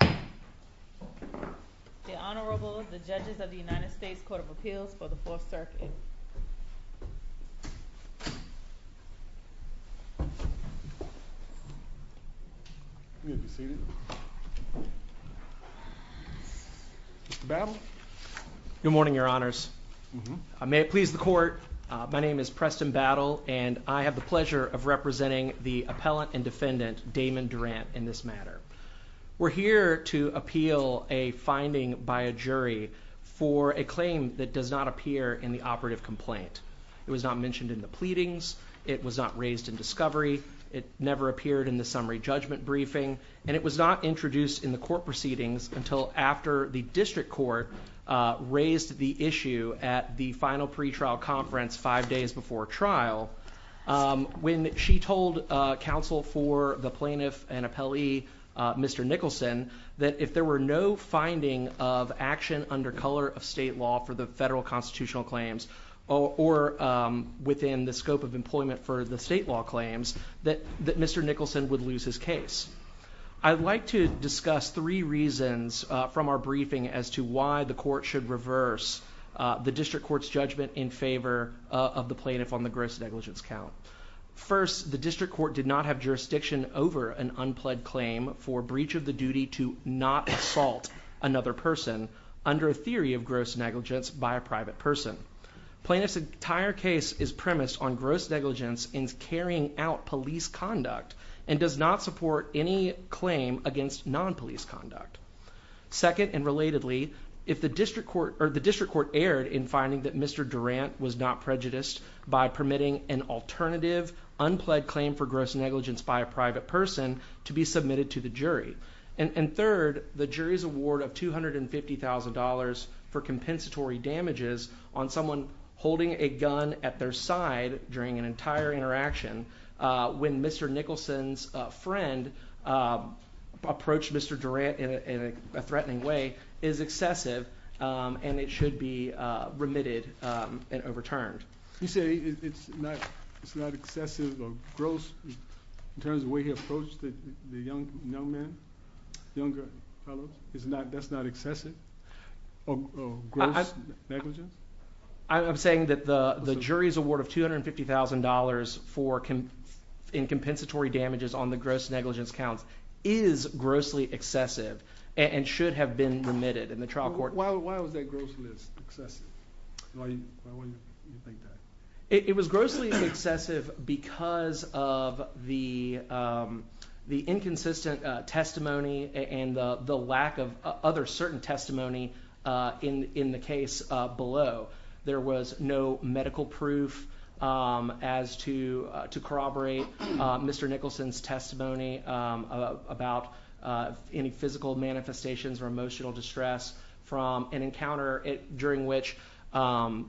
The Honorable, the Judges of the United States Court of Appeals for the 4th Circuit. You may be seated. Mr. Battle? Good morning, Your Honors. May it please the Court, my name is Preston Battle and I have the pleasure of representing the Appellant and Defendant, Damond Durant, in this matter. We're here to appeal a finding by a jury for a claim that does not appear in the operative complaint. It was not mentioned in the pleadings, it was not raised in discovery, it never appeared in the summary judgment briefing, and it was not introduced in the court proceedings until after the District Court raised the issue at the final pretrial conference five days before trial. When she told counsel for the plaintiff and appellee, Mr. Nicholson, that if there were no finding of action under color of state law for the federal constitutional claims, or within the scope of employment for the state law claims, that Mr. Nicholson would lose his case. I'd like to discuss three reasons from our briefing as to why the court should reverse the District Court's judgment in favor of the plaintiff on the gross negligence count. First, the District Court did not have jurisdiction over an unpledged claim for breach of the duty to not assault another person under a theory of gross negligence by a private person. Plaintiff's entire case is premised on gross negligence in carrying out police conduct and does not support any claim against non-police conduct. Second, and relatedly, if the District Court erred in finding that Mr. Durant was not prejudiced by permitting an alternative unpledged claim for gross negligence by a private person to be submitted to the jury. And third, the jury's award of $250,000 for compensatory damages on someone holding a gun at their side during an entire interaction when Mr. Nicholson's friend approached Mr. Durant in a threatening way is excessive and it should be remitted and overturned. You say it's not excessive or gross in terms of the way he approached the young man, younger fellow? That's not excessive or gross negligence? I'm saying that the jury's award of $250,000 in compensatory damages on the gross negligence count is grossly excessive and should have been remitted in the trial court. Why was that grossly excessive? It was grossly excessive because of the inconsistent testimony and the lack of other certain testimony in the case below. There was no medical proof as to corroborate Mr. Nicholson's testimony about any physical manifestations or emotional distress from an encounter during which Mr.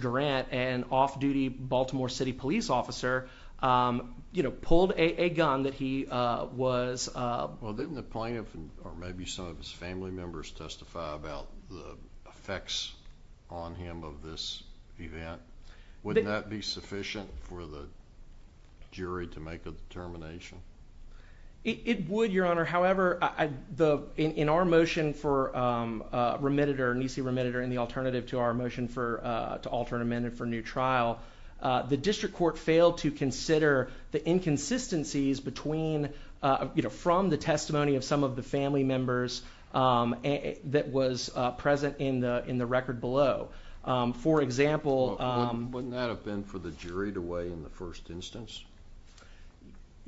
Durant, an off-duty Baltimore City police officer, pulled a gun that he was... Didn't the plaintiff or maybe some of his family members testify about the effects on him of this event? Wouldn't that be sufficient for the jury to make a determination? It would, Your Honor. However, in our motion for remitted or NEC remitted or any alternative to our motion to alter an amendment for new trial, the district court failed to consider the inconsistencies from the testimony of some of the family members that was present in the record below. Wouldn't that have been for the jury to weigh in the first instance?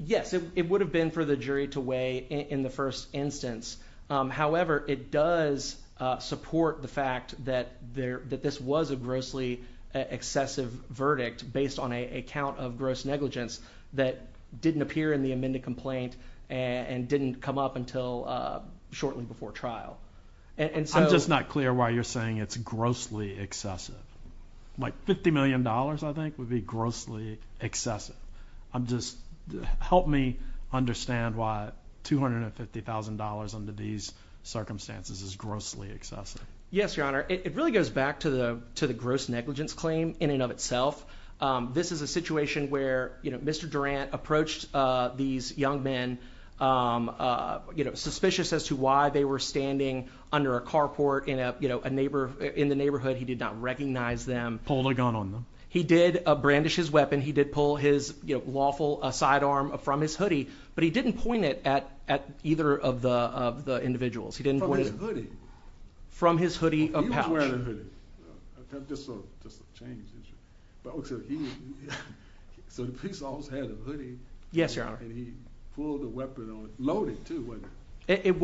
Yes, it would have been for the jury to weigh in the first instance. However, it does support the fact that this was a grossly excessive verdict based on a count of gross negligence that didn't appear in the amended complaint and didn't come up until shortly before trial. I'm just not clear why you're saying it's grossly excessive. Like $50 million, I think, would be grossly excessive. Help me understand why $250,000 under these circumstances is grossly excessive. Yes, Your Honor. It really goes back to the gross negligence claim in and of itself. This is a situation where Mr. Durant approached these young men suspicious as to why they were standing under a carport in the neighborhood. He did not recognize them. Pulled a gun on them. He did brandish his weapon. He did pull his lawful sidearm from his hoodie, but he didn't point it at either of the individuals. From his hoodie? From his hoodie pouch. He was wearing a hoodie. Just to change the issue. So the police officer had a hoodie. Yes, Your Honor. And he pulled a weapon on it. Loaded, too, wasn't it? It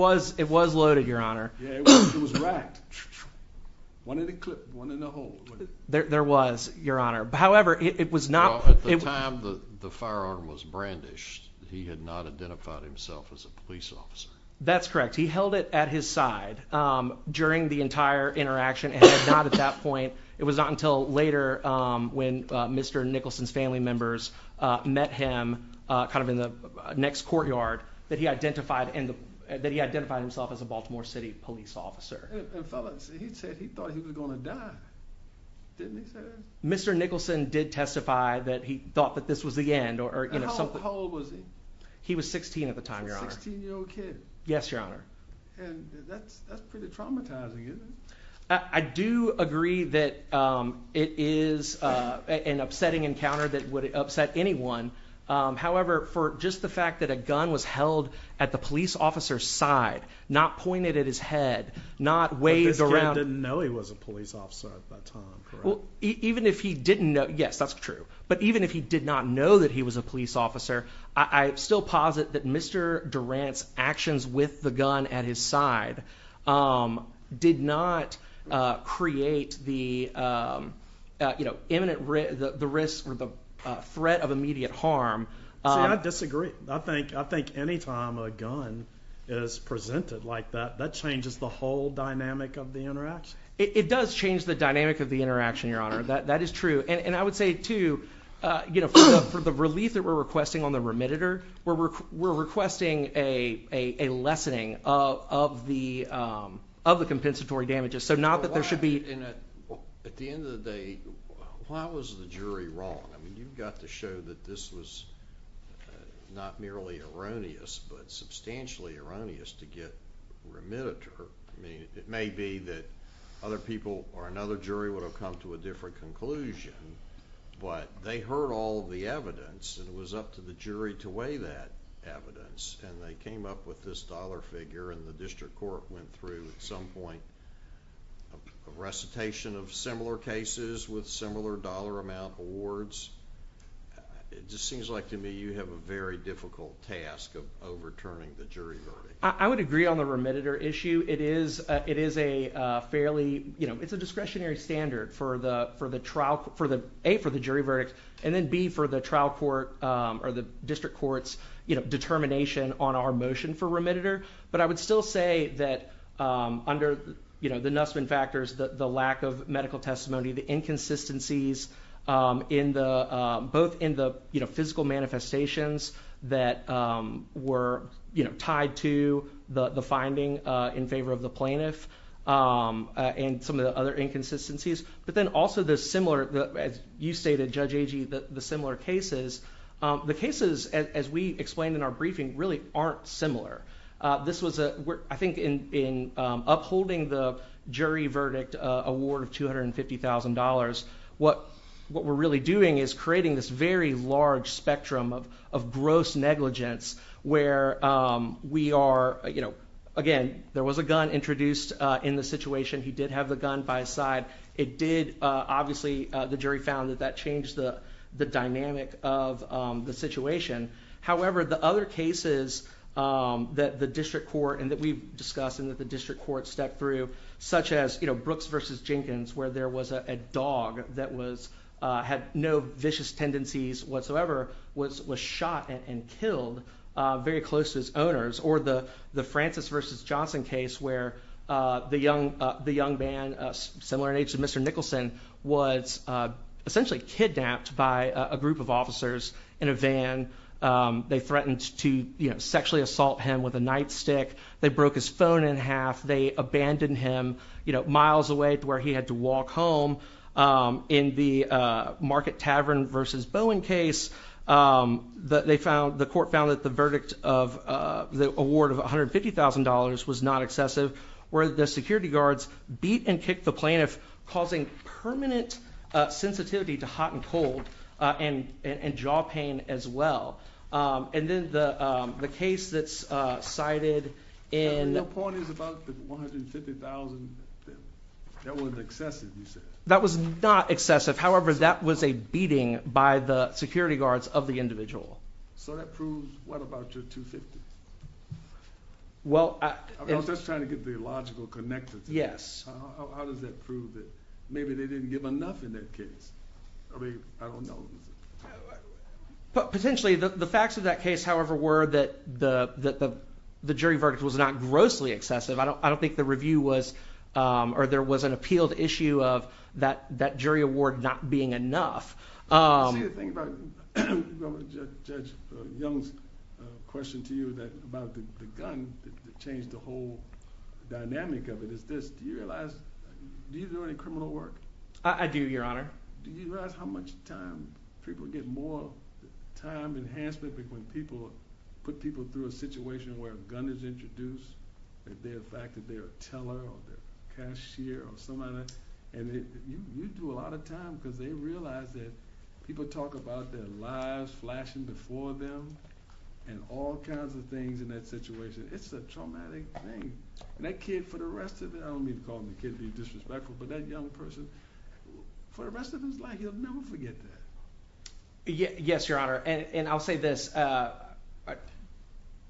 was loaded, Your Honor. Yeah, it was racked. One in the clip, one in the hole. There was, Your Honor. However, it was not... Well, at the time the firearm was brandished, he had not identified himself as a police officer. That's correct. He held it at his side during the entire interaction. It was not until later when Mr. Nicholson's family members met him in the next courtyard that he identified himself as a Baltimore City police officer. He said he thought he was going to die. Didn't he say that? Mr. Nicholson did testify that he thought that this was the end. How old was he? He was 16 at the time, Your Honor. He was a 16-year-old kid. Yes, Your Honor. And that's pretty traumatizing, isn't it? I do agree that it is an upsetting encounter that would upset anyone. However, for just the fact that a gun was held at the police officer's side, not pointed at his head, not waved around... But this kid didn't know he was a police officer at that time, correct? Yes, that's true. But even if he did not know that he was a police officer, I still posit that Mr. Durant's actions with the gun at his side did not create the imminent risk or the threat of immediate harm. See, I disagree. I think anytime a gun is presented like that, that changes the whole dynamic of the interaction. It does change the dynamic of the interaction, Your Honor. That is true. And I would say, too, for the relief that we're requesting on the remittitor, we're requesting a lessening of the compensatory damages. At the end of the day, why was the jury wrong? You got to show that this was not merely erroneous, but substantially erroneous to get the remittitor. I mean, it may be that other people or another jury would have come to a different conclusion, but they heard all of the evidence, and it was up to the jury to weigh that evidence. And they came up with this dollar figure, and the district court went through at some point a recitation of similar cases with similar dollar amount awards. It just seems like to me you have a very difficult task of overturning the jury verdict. I would agree on the remittitor issue. It is a discretionary standard, A, for the jury verdict, and then B, for the trial court or the district court's determination on our motion for remittitor. But I would still say that under the Nussman factors, the lack of medical testimony, the inconsistencies both in the physical manifestations that were tied to the finding in favor of the plaintiff and some of the other inconsistencies, but then also the similar, as you stated, Judge Agee, the similar cases. The cases, as we explained in our briefing, really aren't similar. I think in upholding the jury verdict award of $250,000, what we're really doing is creating this very large spectrum of gross negligence where we are, again, there was a gun introduced in the situation. He did have the gun by his side. It did, obviously, the jury found that that changed the dynamic of the situation. However, the other cases that the district court and that we've discussed and that the district court stepped through, such as Brooks v. Jenkins, where there was a dog that had no vicious tendencies whatsoever, was shot and killed very close to its owners. Or the Francis v. Johnson case where the young man, similar in age to Mr. Nicholson, was essentially kidnapped by a group of officers in a van. They threatened to sexually assault him with a nightstick. They broke his phone in half. They abandoned him miles away to where he had to walk home. In the Market Tavern v. Bowen case, the court found that the verdict of the award of $150,000 was not excessive, where the security guards beat and kicked the plaintiff, causing permanent sensitivity to hot and cold and jaw pain as well. And then the case that's cited in... Your point is about the $150,000. That wasn't excessive, you said. That was not excessive. However, that was a beating by the security guards of the individual. So that proves, what, about your $250,000? Well, I... I was just trying to get the logical connection. Yes. How does that prove that maybe they didn't give enough in that case? I mean, I don't know. Potentially, the facts of that case, however, were that the jury verdict was not grossly excessive. I don't think the review was, or there was an appealed issue of that jury award not being enough. I see the thing about Judge Young's question to you about the gun that changed the whole dynamic of it. Do you realize, do you do any criminal work? I do, Your Honor. Do you realize how much time, people get more time enhancement when people, put people through a situation where a gun is introduced? The fact that they're a teller or a cashier or someone, and you do a lot of time because they realize that people talk about their lives flashing before them and all kinds of things in that situation. It's a traumatic thing. And that kid, for the rest of it, I don't mean to call the kid disrespectful, but that young person, for the rest of his life, he'll never forget that. Yes, Your Honor. And I'll say this.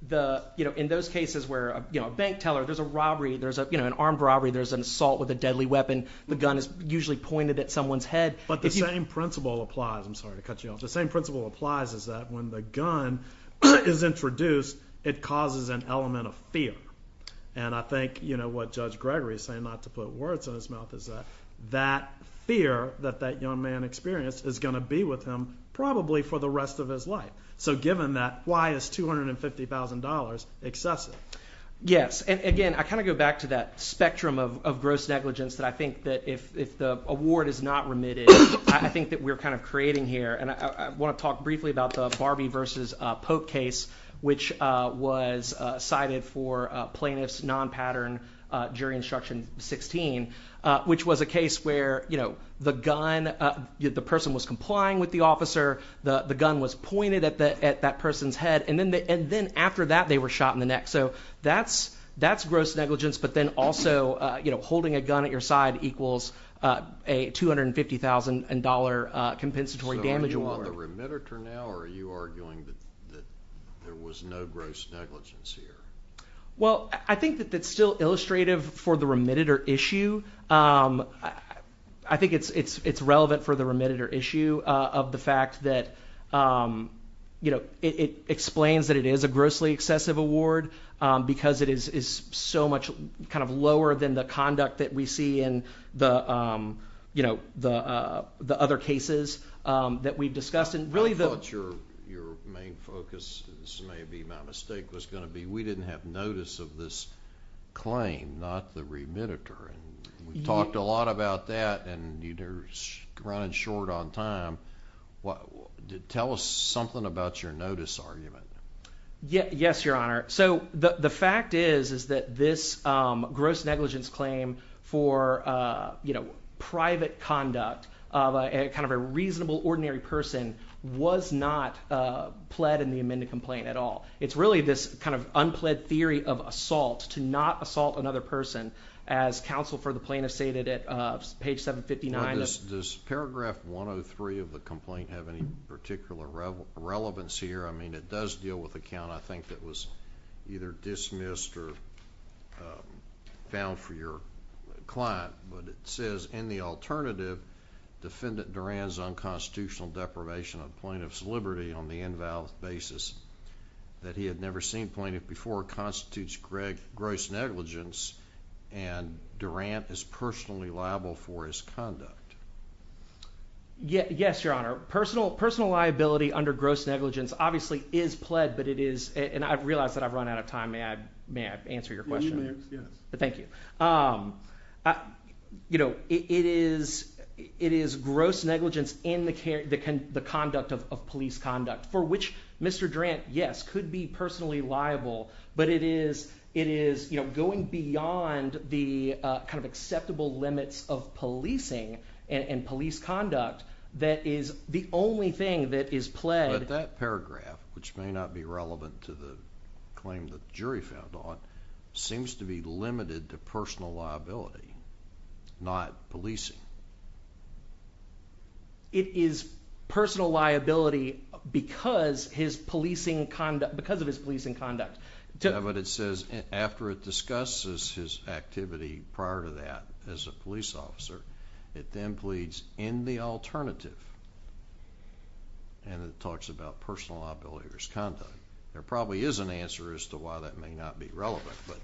The, you know, in those cases where, you know, a bank teller, there's a robbery, there's a, you know, an armed robbery, there's an assault with a deadly weapon, the gun is usually pointed at someone's head. But the same principle applies. I'm sorry to cut you off. The same principle applies is that when the gun is introduced, it causes an element of fear. And I think, you know, what Judge Gregory is saying, not to put words in his mouth, is that that fear that that young man experienced is going to be with him probably for the rest of his life. So given that, why is $250,000 excessive? Yes. And again, I kind of go back to that spectrum of gross negligence that I think that if the award is not remitted, I think that we're kind of creating here. And I want to talk briefly about the Barbie versus Pope case, which was cited for plaintiffs' non-pattern jury instruction 16, which was a case where, you know, the gun, the person was complying with the officer, the gun was pointed at that person's head. And then after that, they were shot in the neck. So that's gross negligence. But then also, you know, holding a gun at your side equals a $250,000 compensatory damage award. So are you on the remitter now or are you arguing that there was no gross negligence here? Well, I think that that's still illustrative for the remitter issue. I think it's relevant for the remitter issue of the fact that, you know, it explains that it is a grossly excessive award, because it is so much kind of lower than the conduct that we see in the, you know, the other cases that we've discussed. I thought your main focus, this may be my mistake, was going to be we didn't have notice of this claim, not the remitter. And we've talked a lot about that and you're running short on time. Tell us something about your notice argument. Yes, Your Honor. So the fact is, is that this gross negligence claim for, you know, private conduct of a kind of a reasonable ordinary person was not pled in the amended complaint at all. It's really this kind of unpled theory of assault to not assault another person, as counsel for the plaintiff stated at page 759. Does paragraph 103 of the complaint have any particular relevance here? I mean, it does deal with a count, I think, that was either dismissed or found for your client. But it says, in the alternative, defendant Durant's unconstitutional deprivation of plaintiff's liberty on the invalid basis that he had never seen plaintiff before constitutes gross negligence and Durant is personally liable for his conduct. Yes, Your Honor. Personal liability under gross negligence obviously is pled, but it is, and I've realized that I've run out of time. May I answer your question? Yes. Thank you. You know, it is, it is gross negligence in the conduct of police conduct for which Mr. Durant, yes, could be personally liable, but it is, it is, you know, going beyond the kind of acceptable limits of policing and police conduct that is the only thing that is pled. But that paragraph, which may not be relevant to the claim that the jury found on, seems to be limited to personal liability, not policing. It is personal liability because his policing conduct, because of his policing conduct. But it says, after it discusses his activity prior to that as a police officer, it then pleads in the alternative, and it talks about personal liability for his conduct. There probably is an answer as to why that may not be relevant, but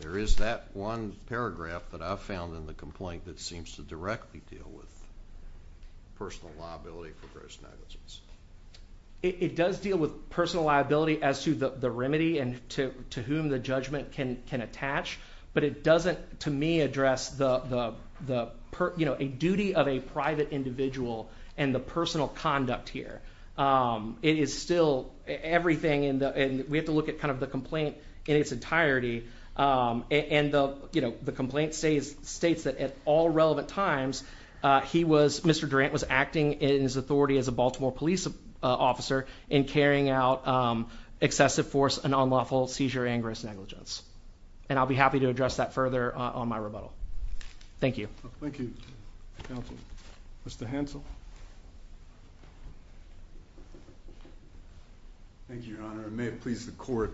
there is that one paragraph that I found in the complaint that seems to directly deal with personal liability for gross negligence. It does deal with personal liability as to the remedy and to whom the judgment can attach, but it doesn't, to me, address the, you know, a duty of a private individual and the personal conduct here. It is still everything in the, and we have to look at kind of the complaint in its entirety, and the, you know, the complaint states that at all relevant times, he was, Mr. Durant was acting in his authority as a Baltimore police officer in carrying out excessive force and unlawful seizure and gross negligence. And I'll be happy to address that further on my rebuttal. Thank you. Thank you, counsel. Mr. Hansel. Thank you, Your Honor. And may it please the court,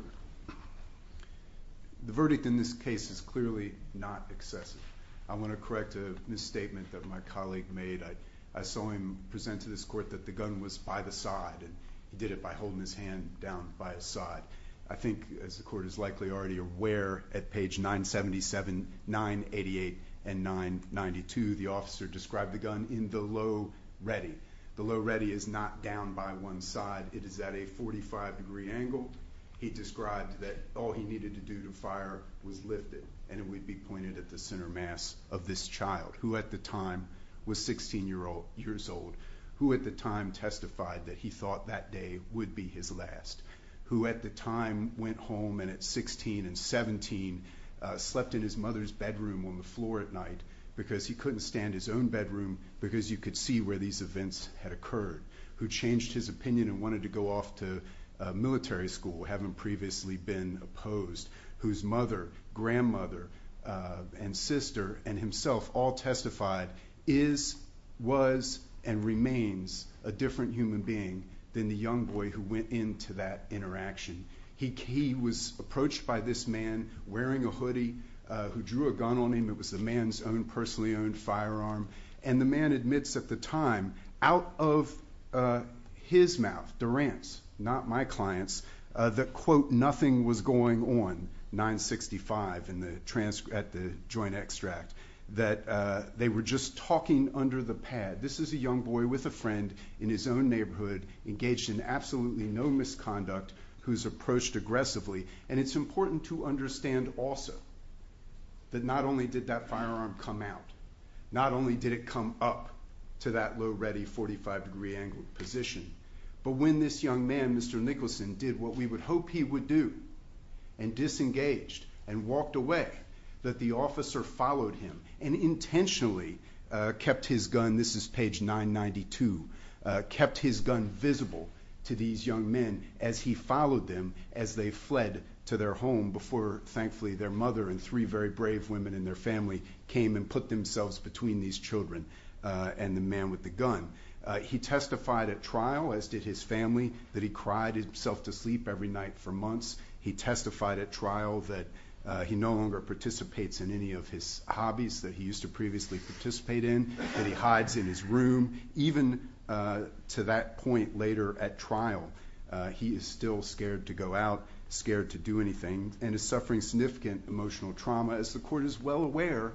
the verdict in this case is clearly not excessive. I want to correct a misstatement that my colleague made. I saw him present to this court that the gun was by the side and he did it by holding his hand down by his side. I think, as the court is likely already aware, at page 977, 988, and 992, the officer described the gun in the low ready. The low ready is not down by one side. It is at a 45 degree angle. He described that all he needed to do to fire was lift it and it would be pointed at the center mass of this child, who at the time was 16 years old, who at the time testified that he thought that day would be his last. Who at the time went home and at 16 and 17 slept in his mother's bedroom on the floor at night because he couldn't stand his own bedroom because you could see where these events had occurred. Who changed his opinion and wanted to go off to military school, having previously been opposed. Whose mother, grandmother, and sister, and himself all testified is, was, and remains a different human being than the young boy who went into that interaction. He was approached by this man wearing a hoodie who drew a gun on him. It was the man's own personally owned firearm. And the man admits at the time, out of his mouth, Durant's, not my client's, that quote nothing was going on, 965 at the joint extract. That they were just talking under the pad. This is a young boy with a friend in his own neighborhood, engaged in absolutely no misconduct, who's approached aggressively. And it's important to understand also that not only did that firearm come out, not only did it come up to that low ready 45 degree angle position, but when this young man, Mr. Nicholson, did what we would hope he would do and disengaged and walked away, that the officer followed him and intentionally kept his gun, this is page 992, kept his gun visible to these young men as he followed them as they fled to their home before, thankfully, their mother and three very brave women and their family came and put themselves between these children and the man with the gun. He testified at trial, as did his family, that he cried himself to sleep every night for months. He testified at trial that he no longer participates in any of his hobbies that he used to previously participate in, that he hides in his room. Even to that point later at trial, he is still scared to go out, scared to do anything, and is suffering significant emotional trauma. As the court is well aware,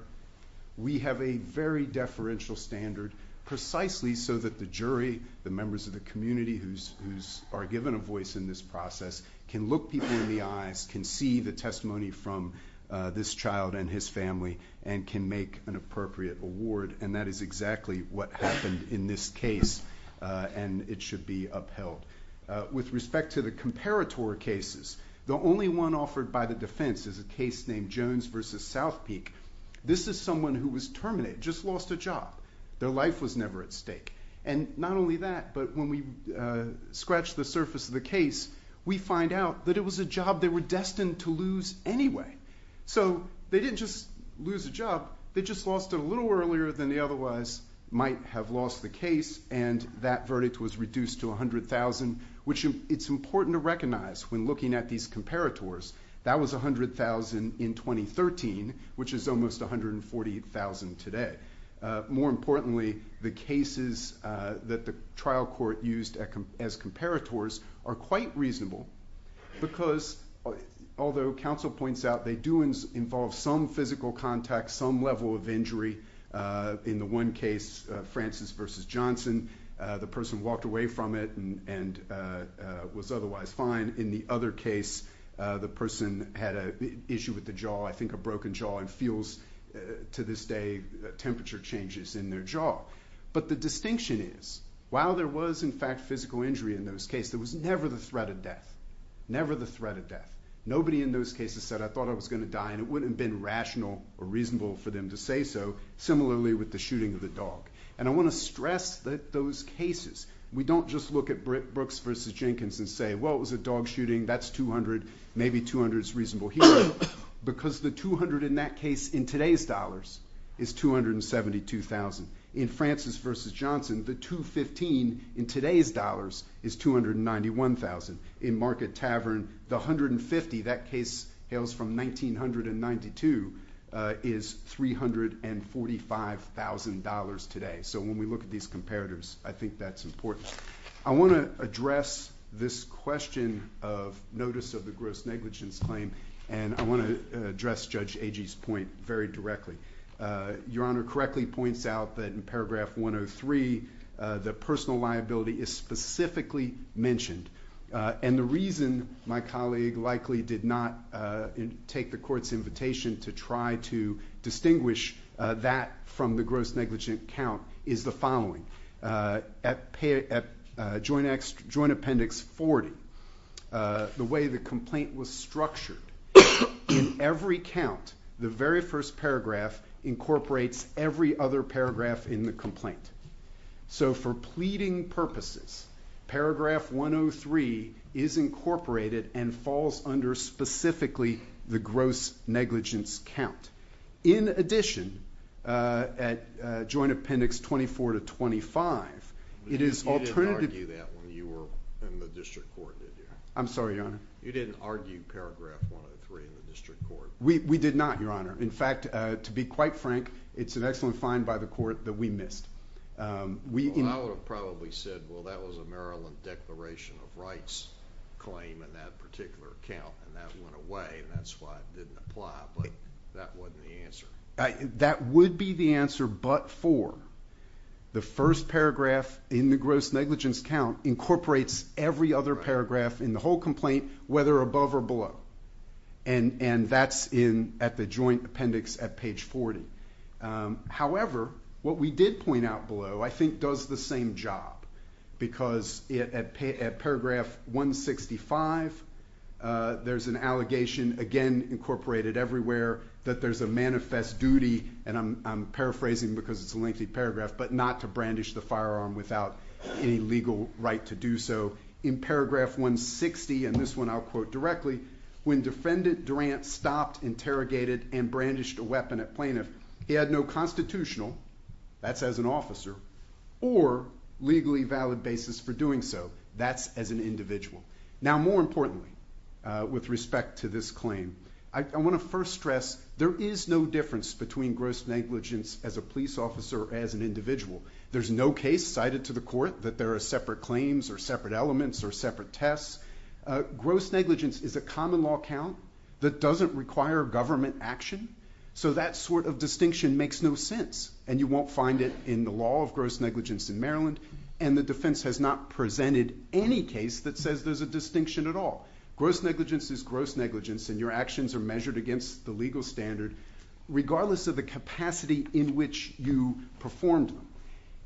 we have a very deferential standard precisely so that the jury, the members of the community who are given a voice in this process, can look people in the eyes, can see the testimony from this child and his family, and can make an appropriate award. And that is exactly what happened in this case, and it should be upheld. With respect to the comparator cases, the only one offered by the defense is a case named Jones v. South Peak. This is someone who was terminated, just lost a job. Their life was never at stake. And not only that, but when we scratch the surface of the case, we find out that it was a job they were destined to lose anyway. So they didn't just lose a job, they just lost it a little earlier than they otherwise might have lost the case, and that verdict was reduced to $100,000, which it's important to recognize when looking at these comparators. That was $100,000 in 2013, which is almost $140,000 today. More importantly, the cases that the trial court used as comparators are quite reasonable, because although counsel points out they do involve some physical contact, some level of injury, in the one case, Francis v. Johnson, the person walked away from it and was otherwise fine. In the other case, the person had an issue with the jaw, I think a broken jaw, and feels, to this day, temperature changes in their jaw. But the distinction is, while there was, in fact, physical injury in those cases, there was never the threat of death. Never the threat of death. Nobody in those cases said, I thought I was going to die, and it wouldn't have been rational or reasonable for them to say so, similarly with the shooting of the dog. And I want to stress that those cases, we don't just look at Brooks v. Jenkins and say, well, it was a dog shooting, that's $200,000, maybe $200,000 is reasonable here, because the $200,000 in that case in today's dollars is $272,000. In Francis v. Johnson, the $215,000 in today's dollars is $291,000. In Market Tavern, the $150,000, that case hails from 1992, is $345,000 today. So when we look at these comparators, I think that's important. I want to address this question of notice of the gross negligence claim, and I want to address Judge Agee's point very directly. Your Honor correctly points out that in paragraph 103, the personal liability is specifically mentioned. And the reason my colleague likely did not take the Court's invitation to try to distinguish that from the gross negligence count is the following. At Joint Appendix 40, the way the complaint was structured, in every count, the very first paragraph incorporates every other paragraph in the complaint. So for pleading purposes, paragraph 103 is incorporated and falls under specifically the gross negligence count. In addition, at Joint Appendix 24-25, it is alternative- You didn't argue that when you were in the District Court, did you? I'm sorry, Your Honor? You didn't argue paragraph 103 in the District Court? We did not, Your Honor. In fact, to be quite frank, it's an excellent find by the Court that we missed. Well, I would have probably said, well, that was a Maryland Declaration of Rights claim in that particular count, and that went away, and that's why it didn't apply, but that wasn't the answer. That would be the answer but for the first paragraph in the gross negligence count incorporates every other paragraph in the whole complaint, whether above or below, and that's at the Joint Appendix at page 40. However, what we did point out below, I think, does the same job because at paragraph 165, there's an allegation, again, incorporated everywhere, that there's a manifest duty, and I'm paraphrasing because it's a lengthy paragraph, but not to brandish the firearm without any legal right to do so. In paragraph 160, and this one I'll quote directly, when defendant Durant stopped, interrogated, and brandished a weapon at plaintiff, he had no constitutional, that's as an officer, or legally valid basis for doing so, that's as an individual. Now, more importantly, with respect to this claim, I want to first stress there is no difference between gross negligence as a police officer or as an individual. There's no case cited to the court that there are separate claims or separate elements or separate tests. Gross negligence is a common law count that doesn't require government action, so that sort of distinction makes no sense, and you won't find it in the law of gross negligence in Maryland, and the defense has not presented any case that says there's a distinction at all. Gross negligence is gross negligence, and your actions are measured against the legal standard, regardless of the capacity in which you performed them.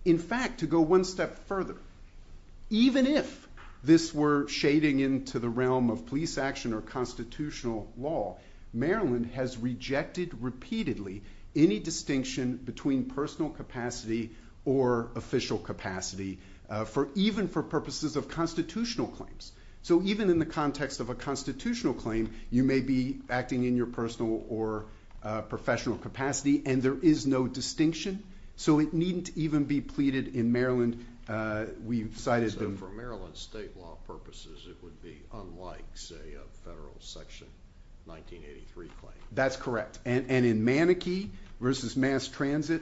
In fact, to go one step further, even if this were shading into the realm of police action or constitutional law, Maryland has rejected repeatedly any distinction between personal capacity or official capacity, even for purposes of constitutional claims. So even in the context of a constitutional claim, you may be acting in your personal or professional capacity, and there is no distinction, so it needn't even be pleaded in Maryland. We've cited them. So for Maryland state law purposes, it would be unlike, say, a federal section 1983 claim? That's correct, and in Manakee v. Mass Transit,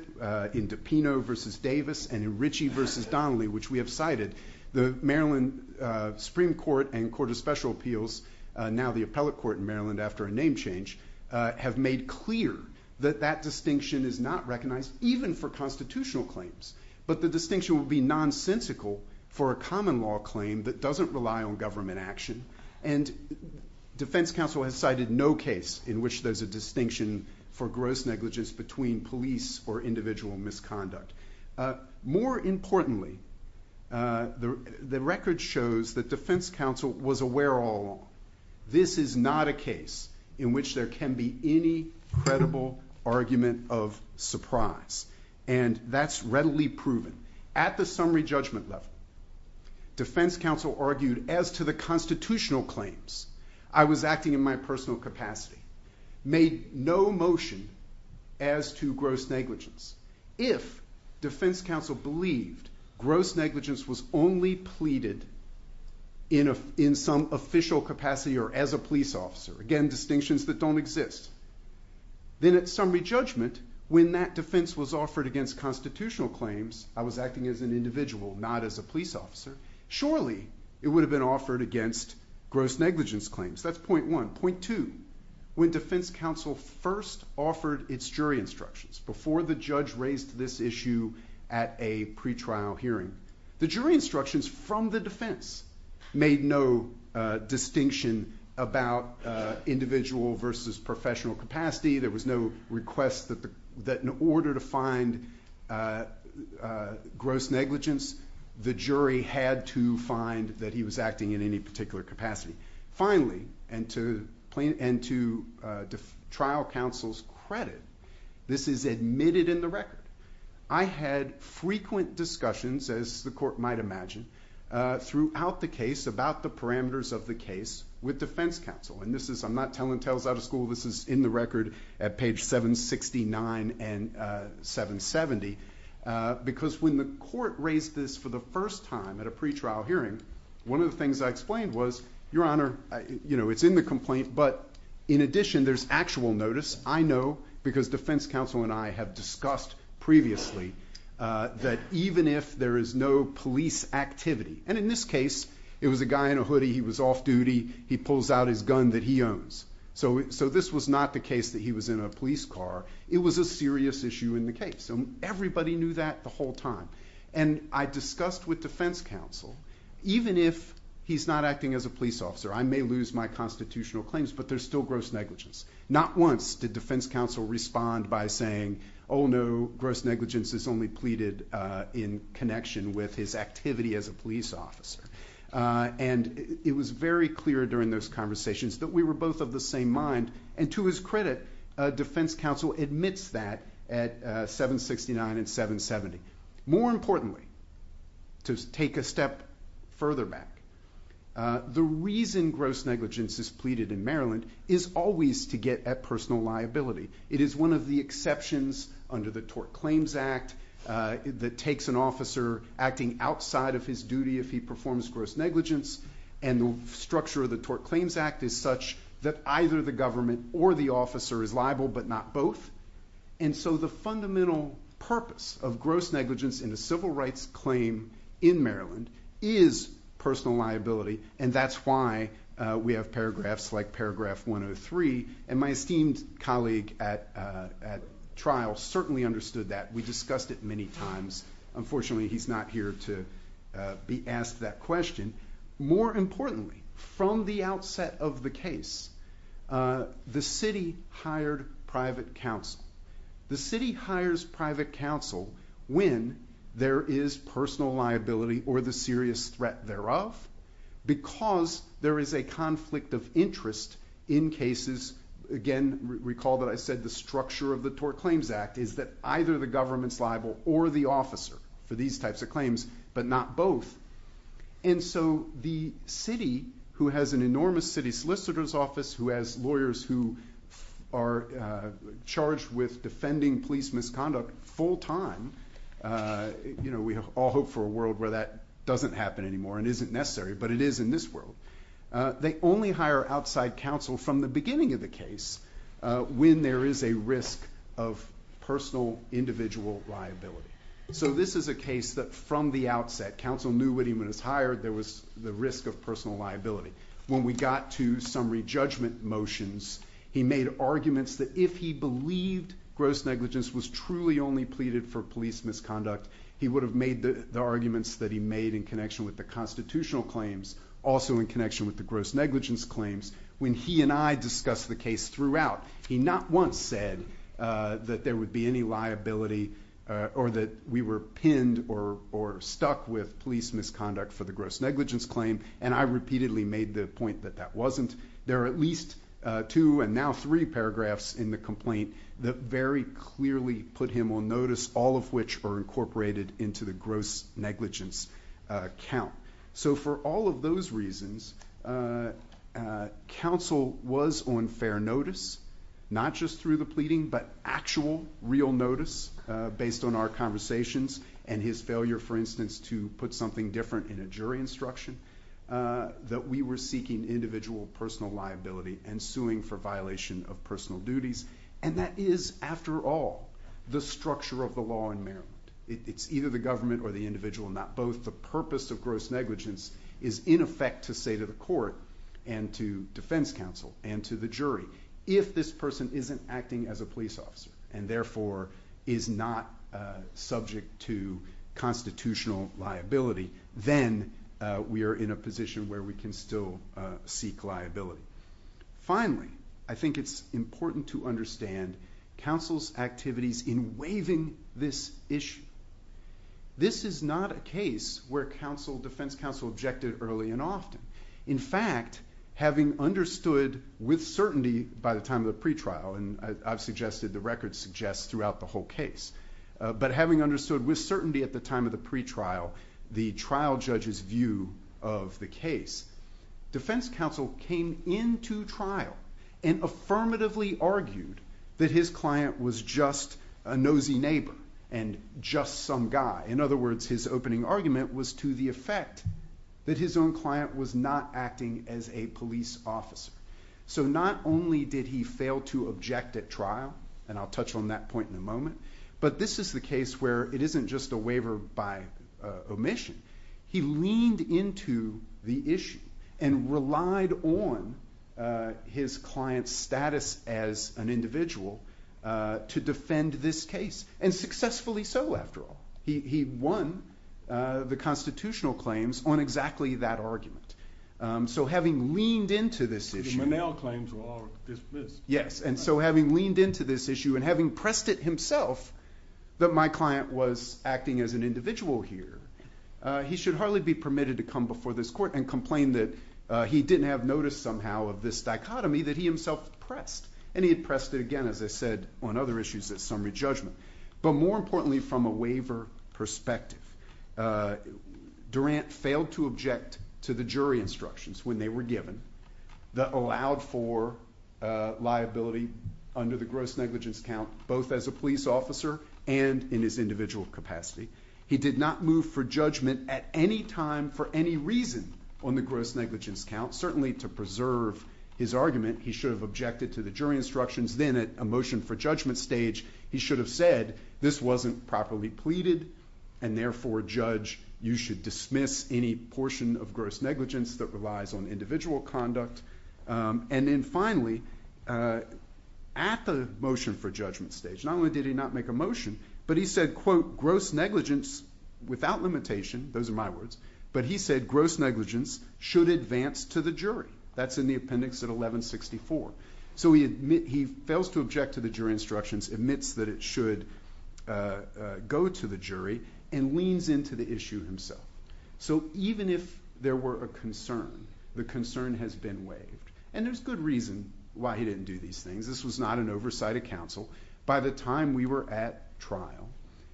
in DePino v. Davis, and in Ritchie v. Donnelly, which we have cited, the Maryland Supreme Court and Court of Special Appeals, now the appellate court in Maryland after a name change, have made clear that that distinction is not recognized even for constitutional claims, but the distinction would be nonsensical for a common law claim that doesn't rely on government action, and defense counsel has cited no case in which there's a distinction for gross negligence between police or individual misconduct. More importantly, the record shows that defense counsel was aware all along. This is not a case in which there can be any credible argument of surprise, and that's readily proven. At the summary judgment level, defense counsel argued as to the constitutional claims, I was acting in my personal capacity, made no motion as to gross negligence. If defense counsel believed gross negligence was only pleaded in some official capacity or as a police officer, again, distinctions that don't exist, then at summary judgment, when that defense was offered against constitutional claims, I was acting as an individual, not as a police officer, surely it would have been offered against gross negligence claims. That's point one. Point two, when defense counsel first offered its jury instructions before the judge raised this issue at a pretrial hearing, the jury instructions from the defense made no distinction about individual versus professional capacity. There was no request that in order to find gross negligence, the jury had to find that he was acting in any particular capacity. Finally, and to trial counsel's credit, this is admitted in the record. I had frequent discussions, as the court might imagine, throughout the case about the parameters of the case with defense counsel. And I'm not telling tales out of school. This is in the record at page 769 and 770. Because when the court raised this for the first time at a pretrial hearing, one of the things I explained was, your honor, it's in the complaint. But in addition, there's actual notice. I know because defense counsel and I have discussed previously that even if there is no police activity, and in this case, it was a guy in a hoodie. He was off duty. He pulls out his gun that he owns. So this was not the case that he was in a police car. It was a serious issue in the case. And everybody knew that the whole time. And I discussed with defense counsel, even if he's not acting as a police officer, I may lose my constitutional claims, but there's still gross negligence. Not once did defense counsel respond by saying, oh, no, gross negligence is only pleaded in connection with his activity as a police officer. And it was very clear during those conversations that we were both of the same mind. And to his credit, defense counsel admits that at 769 and 770. More importantly, to take a step further back, the reason gross negligence is pleaded in Maryland is always to get at personal liability. It is one of the exceptions under the Tort Claims Act that takes an officer acting outside of his duty if he performs gross negligence. And the structure of the Tort Claims Act is such that either the government or the officer is liable, but not both. And so the fundamental purpose of gross negligence in a civil rights claim in Maryland is personal liability. And that's why we have paragraphs like paragraph 103. And my esteemed colleague at trial certainly understood that. We discussed it many times. Unfortunately, he's not here to be asked that question. More importantly, from the outset of the case, the city hired private counsel. The city hires private counsel when there is personal liability or the serious threat thereof because there is a conflict of interest in cases. Again, recall that I said the structure of the Tort Claims Act is that either the government's liable or the officer for these types of claims, but not both. And so the city, who has an enormous city solicitor's office, who has lawyers who are charged with defending police misconduct full time, we all hope for a world where that doesn't happen anymore and isn't necessary, but it is in this world. They only hire outside counsel from the beginning of the case when there is a risk of personal individual liability. So this is a case that from the outset, counsel knew when he was hired, there was the risk of personal liability. When we got to summary judgment motions, he made arguments that if he believed gross negligence was truly only pleaded for police misconduct, he would have made the arguments that he made in connection with the constitutional claims also in connection with the gross negligence claims. When he and I discussed the case throughout, he not once said that there would be any liability or that we were pinned or stuck with police misconduct for the gross negligence claim, and I repeatedly made the point that that wasn't. There are at least two and now three paragraphs in the complaint that very clearly put him on notice, all of which are incorporated into the gross negligence count. So for all of those reasons, counsel was on fair notice, not just through the pleading, but actual real notice based on our conversations and his failure, for instance, to put something different in a jury instruction that we were seeking individual personal liability and suing for violation of personal duties. And that is, after all, the structure of the law in Maryland. It's either the government or the individual, not both. The purpose of gross negligence is in effect to say to the court and to defense counsel and to the jury, if this person isn't acting as a police officer and therefore is not subject to constitutional liability, then we are in a position where we can still seek liability. Finally, I think it's important to understand counsel's activities in waiving this issue. This is not a case where defense counsel objected early and often. In fact, having understood with certainty by the time of the pretrial, and I've suggested the record suggests throughout the whole case, but having understood with certainty at the time of the pretrial the trial judge's view of the case, defense counsel came into trial and affirmatively argued that his client was just a nosy neighbor and just some guy. In other words, his opening argument was to the effect that his own client was not acting as a police officer. So not only did he fail to object at trial, and I'll touch on that point in a moment, but this is the case where it isn't just a waiver by omission. He leaned into the issue and relied on his client's status as an individual to defend this case, and successfully so after all. He won the constitutional claims on exactly that argument. So having leaned into this issue and having pressed it himself that my client was acting as an individual here, he should hardly be permitted to come before this court and complain that he didn't have notice somehow of this dichotomy that he himself pressed. And he had pressed it again, as I said, on other issues at summary judgment. But more importantly from a waiver perspective, Durant failed to object to the jury instructions when they were given that allowed for liability under the gross negligence count both as a police officer and in his individual capacity. He did not move for judgment at any time for any reason on the gross negligence count. Certainly to preserve his argument he should have objected to the jury instructions. Then at a motion for judgment stage, he should have said this wasn't properly pleaded, and therefore, judge, you should dismiss any portion of gross negligence that relies on individual conduct. And then finally, at the motion for judgment stage, not only did he not make a motion, but he said, quote, gross negligence without limitation, those are my words, but he said gross negligence should advance to the jury. That's in the appendix at 1164. So he fails to object to the jury instructions, admits that it should go to the jury, and leans into the issue himself. So even if there were a concern, the concern has been waived. And there's good reason why he didn't do these things. This was not an oversight of counsel. By the time we were at trial,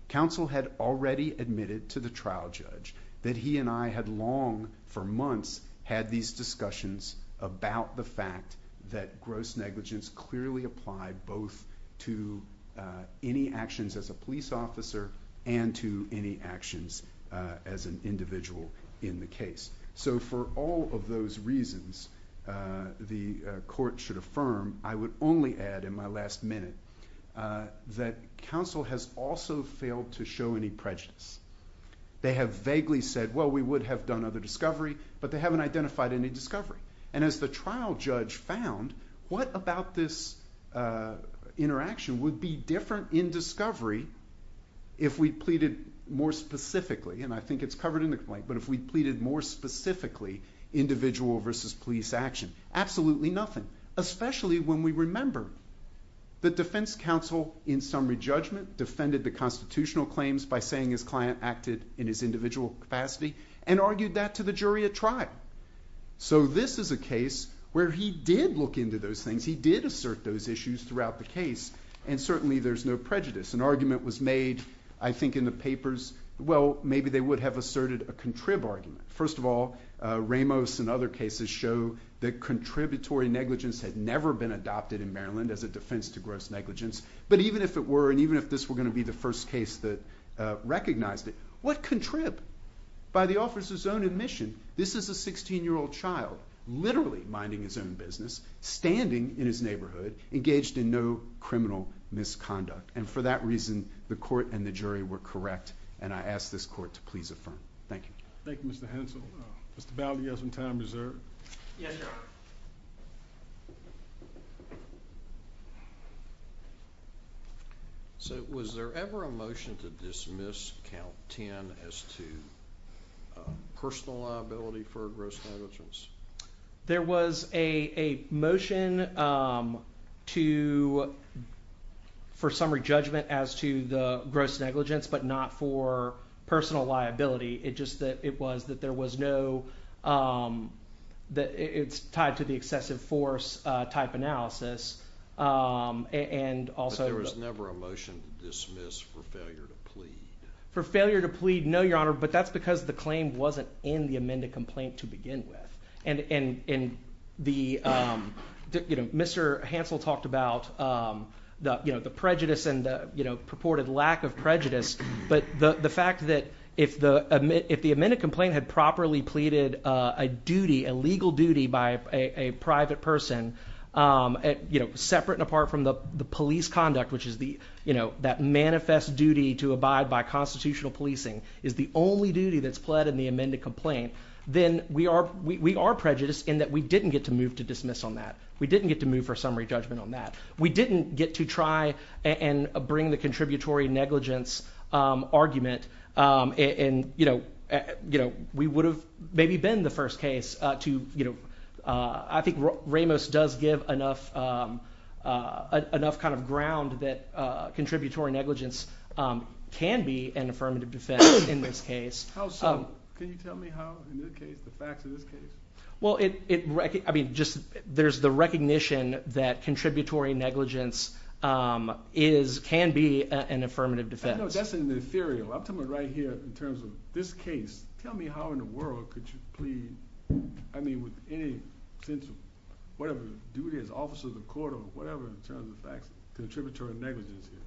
counsel had already admitted to the trial judge that he and I had long for months had these discussions about the fact that gross negligence clearly applied both to any actions as a police officer and to any actions as an individual in the case. So for all of those reasons, the court should affirm, I would only add in my last minute, that counsel has also failed to show any prejudice. They have vaguely said, well, we would have done other discovery, but they haven't identified any discovery. And as the trial judge found, what about this interaction would be different in discovery if we pleaded more specifically, and I think it's covered in the complaint, but if we pleaded more specifically individual versus police action? Absolutely nothing, especially when we remember that defense counsel, in summary judgment, defended the constitutional claims by saying his client acted in his individual capacity and argued that to the jury at trial. So this is a case where he did look into those things. He did assert those issues throughout the case, and certainly there's no prejudice. An argument was made, I think, in the papers. Well, maybe they would have asserted a contrib argument. First of all, Ramos and other cases show that contributory negligence had never been adopted in Maryland as a defense to gross negligence, but even if it were, and even if this were going to be the first case that recognized it, what contrib by the officer's own admission? This is a 16-year-old child literally minding his own business, standing in his neighborhood, engaged in no criminal misconduct, and for that reason the court and the jury were correct, and I ask this court to please affirm. Thank you. Thank you, Mr. Hensel. Mr. Bally, you have some time reserved. Yeah, sure. So was there ever a motion to dismiss count 10 as to personal liability for gross negligence? There was a motion for summary judgment as to the gross negligence, but not for personal liability. It just was that there was no—it's tied to the excessive force type analysis. But there was never a motion to dismiss for failure to plead? For failure to plead, no, Your Honor, but that's because the claim wasn't in the amended complaint to begin with. And Mr. Hensel talked about the prejudice and the purported lack of prejudice, but the fact that if the amended complaint had properly pleaded a duty, a legal duty by a private person separate and apart from the police conduct, which is that manifest duty to abide by constitutional policing, is the only duty that's pled in the amended complaint, then we are prejudiced in that we didn't get to move to dismiss on that. We didn't get to move for summary judgment on that. We didn't get to try and bring the contributory negligence argument, and we would have maybe been the first case to— I think Ramos does give enough kind of ground that contributory negligence can be an affirmative defense in this case. How so? Can you tell me how, in this case, the facts of this case? Well, I mean, just there's the recognition that contributory negligence can be an affirmative defense. I know that's an ethereal. I'm talking right here in terms of this case. Tell me how in the world could you plead, I mean, with any sense of whatever the duty is, officer of the court or whatever in terms of the facts of contributory negligence here.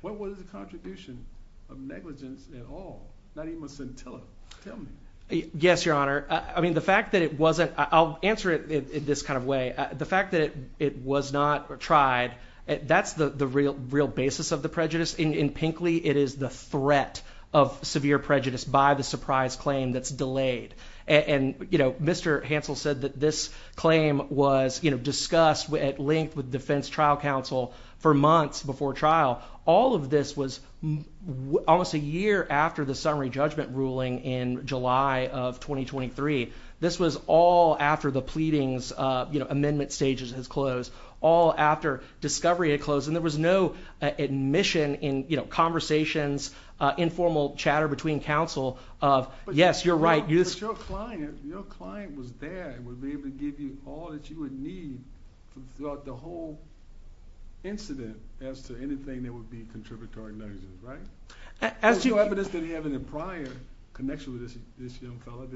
What was the contribution of negligence at all? Not even a scintilla. Tell me. Yes, Your Honor. I mean, the fact that it wasn't—I'll answer it this kind of way. The fact that it was not tried, that's the real basis of the prejudice. In Pinkley, it is the threat of severe prejudice by the surprise claim that's delayed. And, you know, Mr. Hansel said that this claim was discussed at length with defense trial counsel for months before trial. All of this was almost a year after the summary judgment ruling in July of 2023. This was all after the pleadings, you know, amendment stages had closed, all after discovery had closed, and there was no admission in, you know, conversations, informal chatter between counsel of, yes, you're right. But your client was there and would be able to give you all that you would need throughout the whole incident as to anything that would be contributory negligence, right? There's no evidence that he had any prior connection with this young fellow,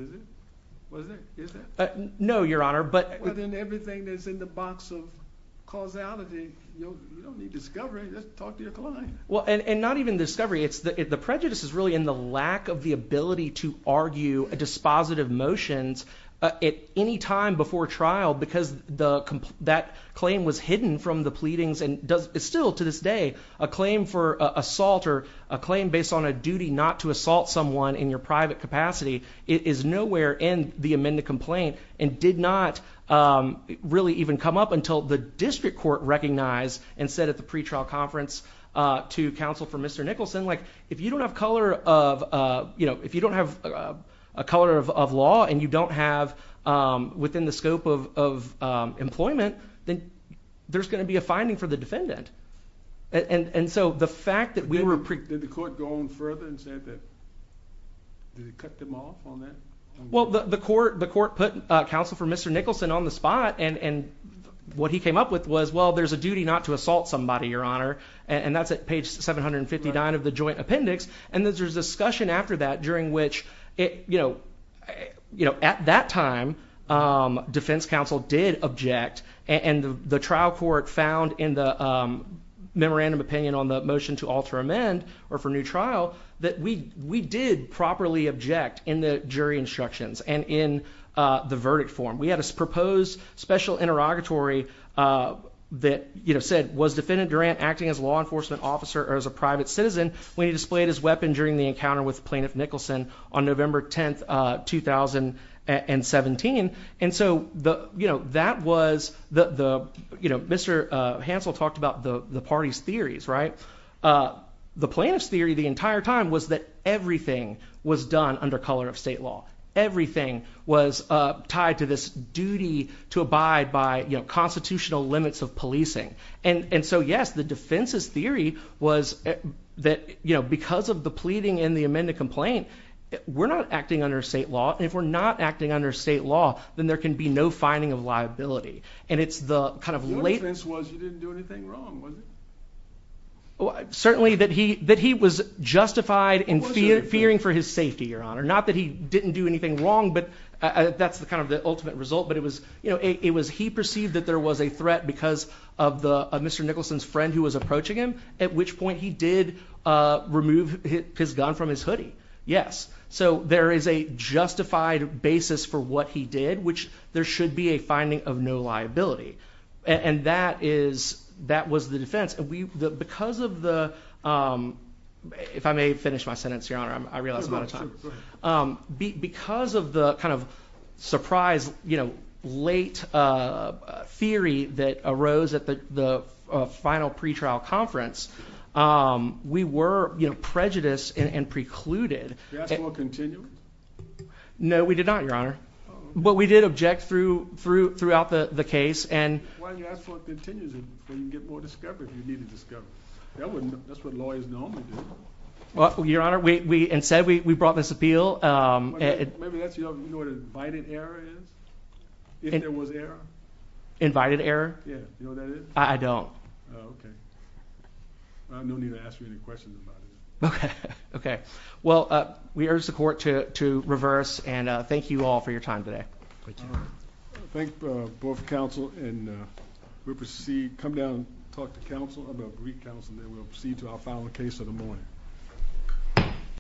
is there? No, Your Honor, but— Within everything that's in the box of causality, you don't need discovery. Just talk to your client. Well, and not even discovery. The prejudice is really in the lack of the ability to argue dispositive motions at any time before trial because that claim was hidden from the pleadings and still to this day, a claim for assault or a claim based on a duty not to assault someone in your private capacity is nowhere in the amended complaint and did not really even come up until the district court recognized and said at the pretrial conference to counsel for Mr. Nicholson, like, if you don't have color of, you know, if you don't have a color of law and you don't have within the scope of employment, then there's going to be a finding for the defendant. And so the fact that we were— Did the court go on further and say that—did it cut them off on that? Well, the court put counsel for Mr. Nicholson on the spot and what he came up with was, well, there's a duty not to assault somebody, Your Honor, and that's at page 759 of the joint appendix. And there's a discussion after that during which, you know, at that time, defense counsel did object and the trial court found in the memorandum opinion on the motion to alter amend or for new trial that we did properly object in the jury instructions and in the verdict form. We had a proposed special interrogatory that, you know, said, was Defendant Durant acting as a law enforcement officer or as a private citizen when he displayed his weapon during the encounter with Plaintiff Nicholson on November 10, 2017? And so, you know, that was the, you know, Mr. Hansel talked about the party's theories, right? The plaintiff's theory the entire time was that everything was done under color of state law. Everything was tied to this duty to abide by, you know, constitutional limits of policing. And so, yes, the defense's theory was that, you know, because of the pleading in the amended complaint, we're not acting under state law. And if we're not acting under state law, then there can be no finding of liability. And it's the kind of late... Your defense was you didn't do anything wrong, was it? Certainly that he was justified in fearing for his safety, Your Honor. Not that he didn't do anything wrong, but that's the kind of the ultimate result. But it was, you know, it was he perceived that there was a threat because of Mr. Nicholson's friend who was approaching him, at which point he did remove his gun from his hoodie. Yes, so there is a justified basis for what he did, which there should be a finding of no liability. And that was the defense. Because of the... If I may finish my sentence, Your Honor, I realize I'm out of time. Because of the kind of surprise, you know, late theory that arose at the final pretrial conference, we were, you know, prejudiced and precluded. Did you ask for a continuity? No, we did not, Your Honor. But we did object throughout the case. Why didn't you ask for a continuity so you can get more discovery if you needed discovery? That's what lawyers normally do. Well, Your Honor, instead, we brought this appeal. Maybe that's, you know, what an invited error is? If there was error? Invited error? Yeah, you know what that is? I don't. Oh, okay. No need to ask you any questions about it. Okay, okay. Well, we urge the court to reverse, and thank you all for your time today. Thank you. Thank both counsel, and we'll proceed, come down, talk to counsel about Greek counsel, and then we'll proceed to our final case of the morning.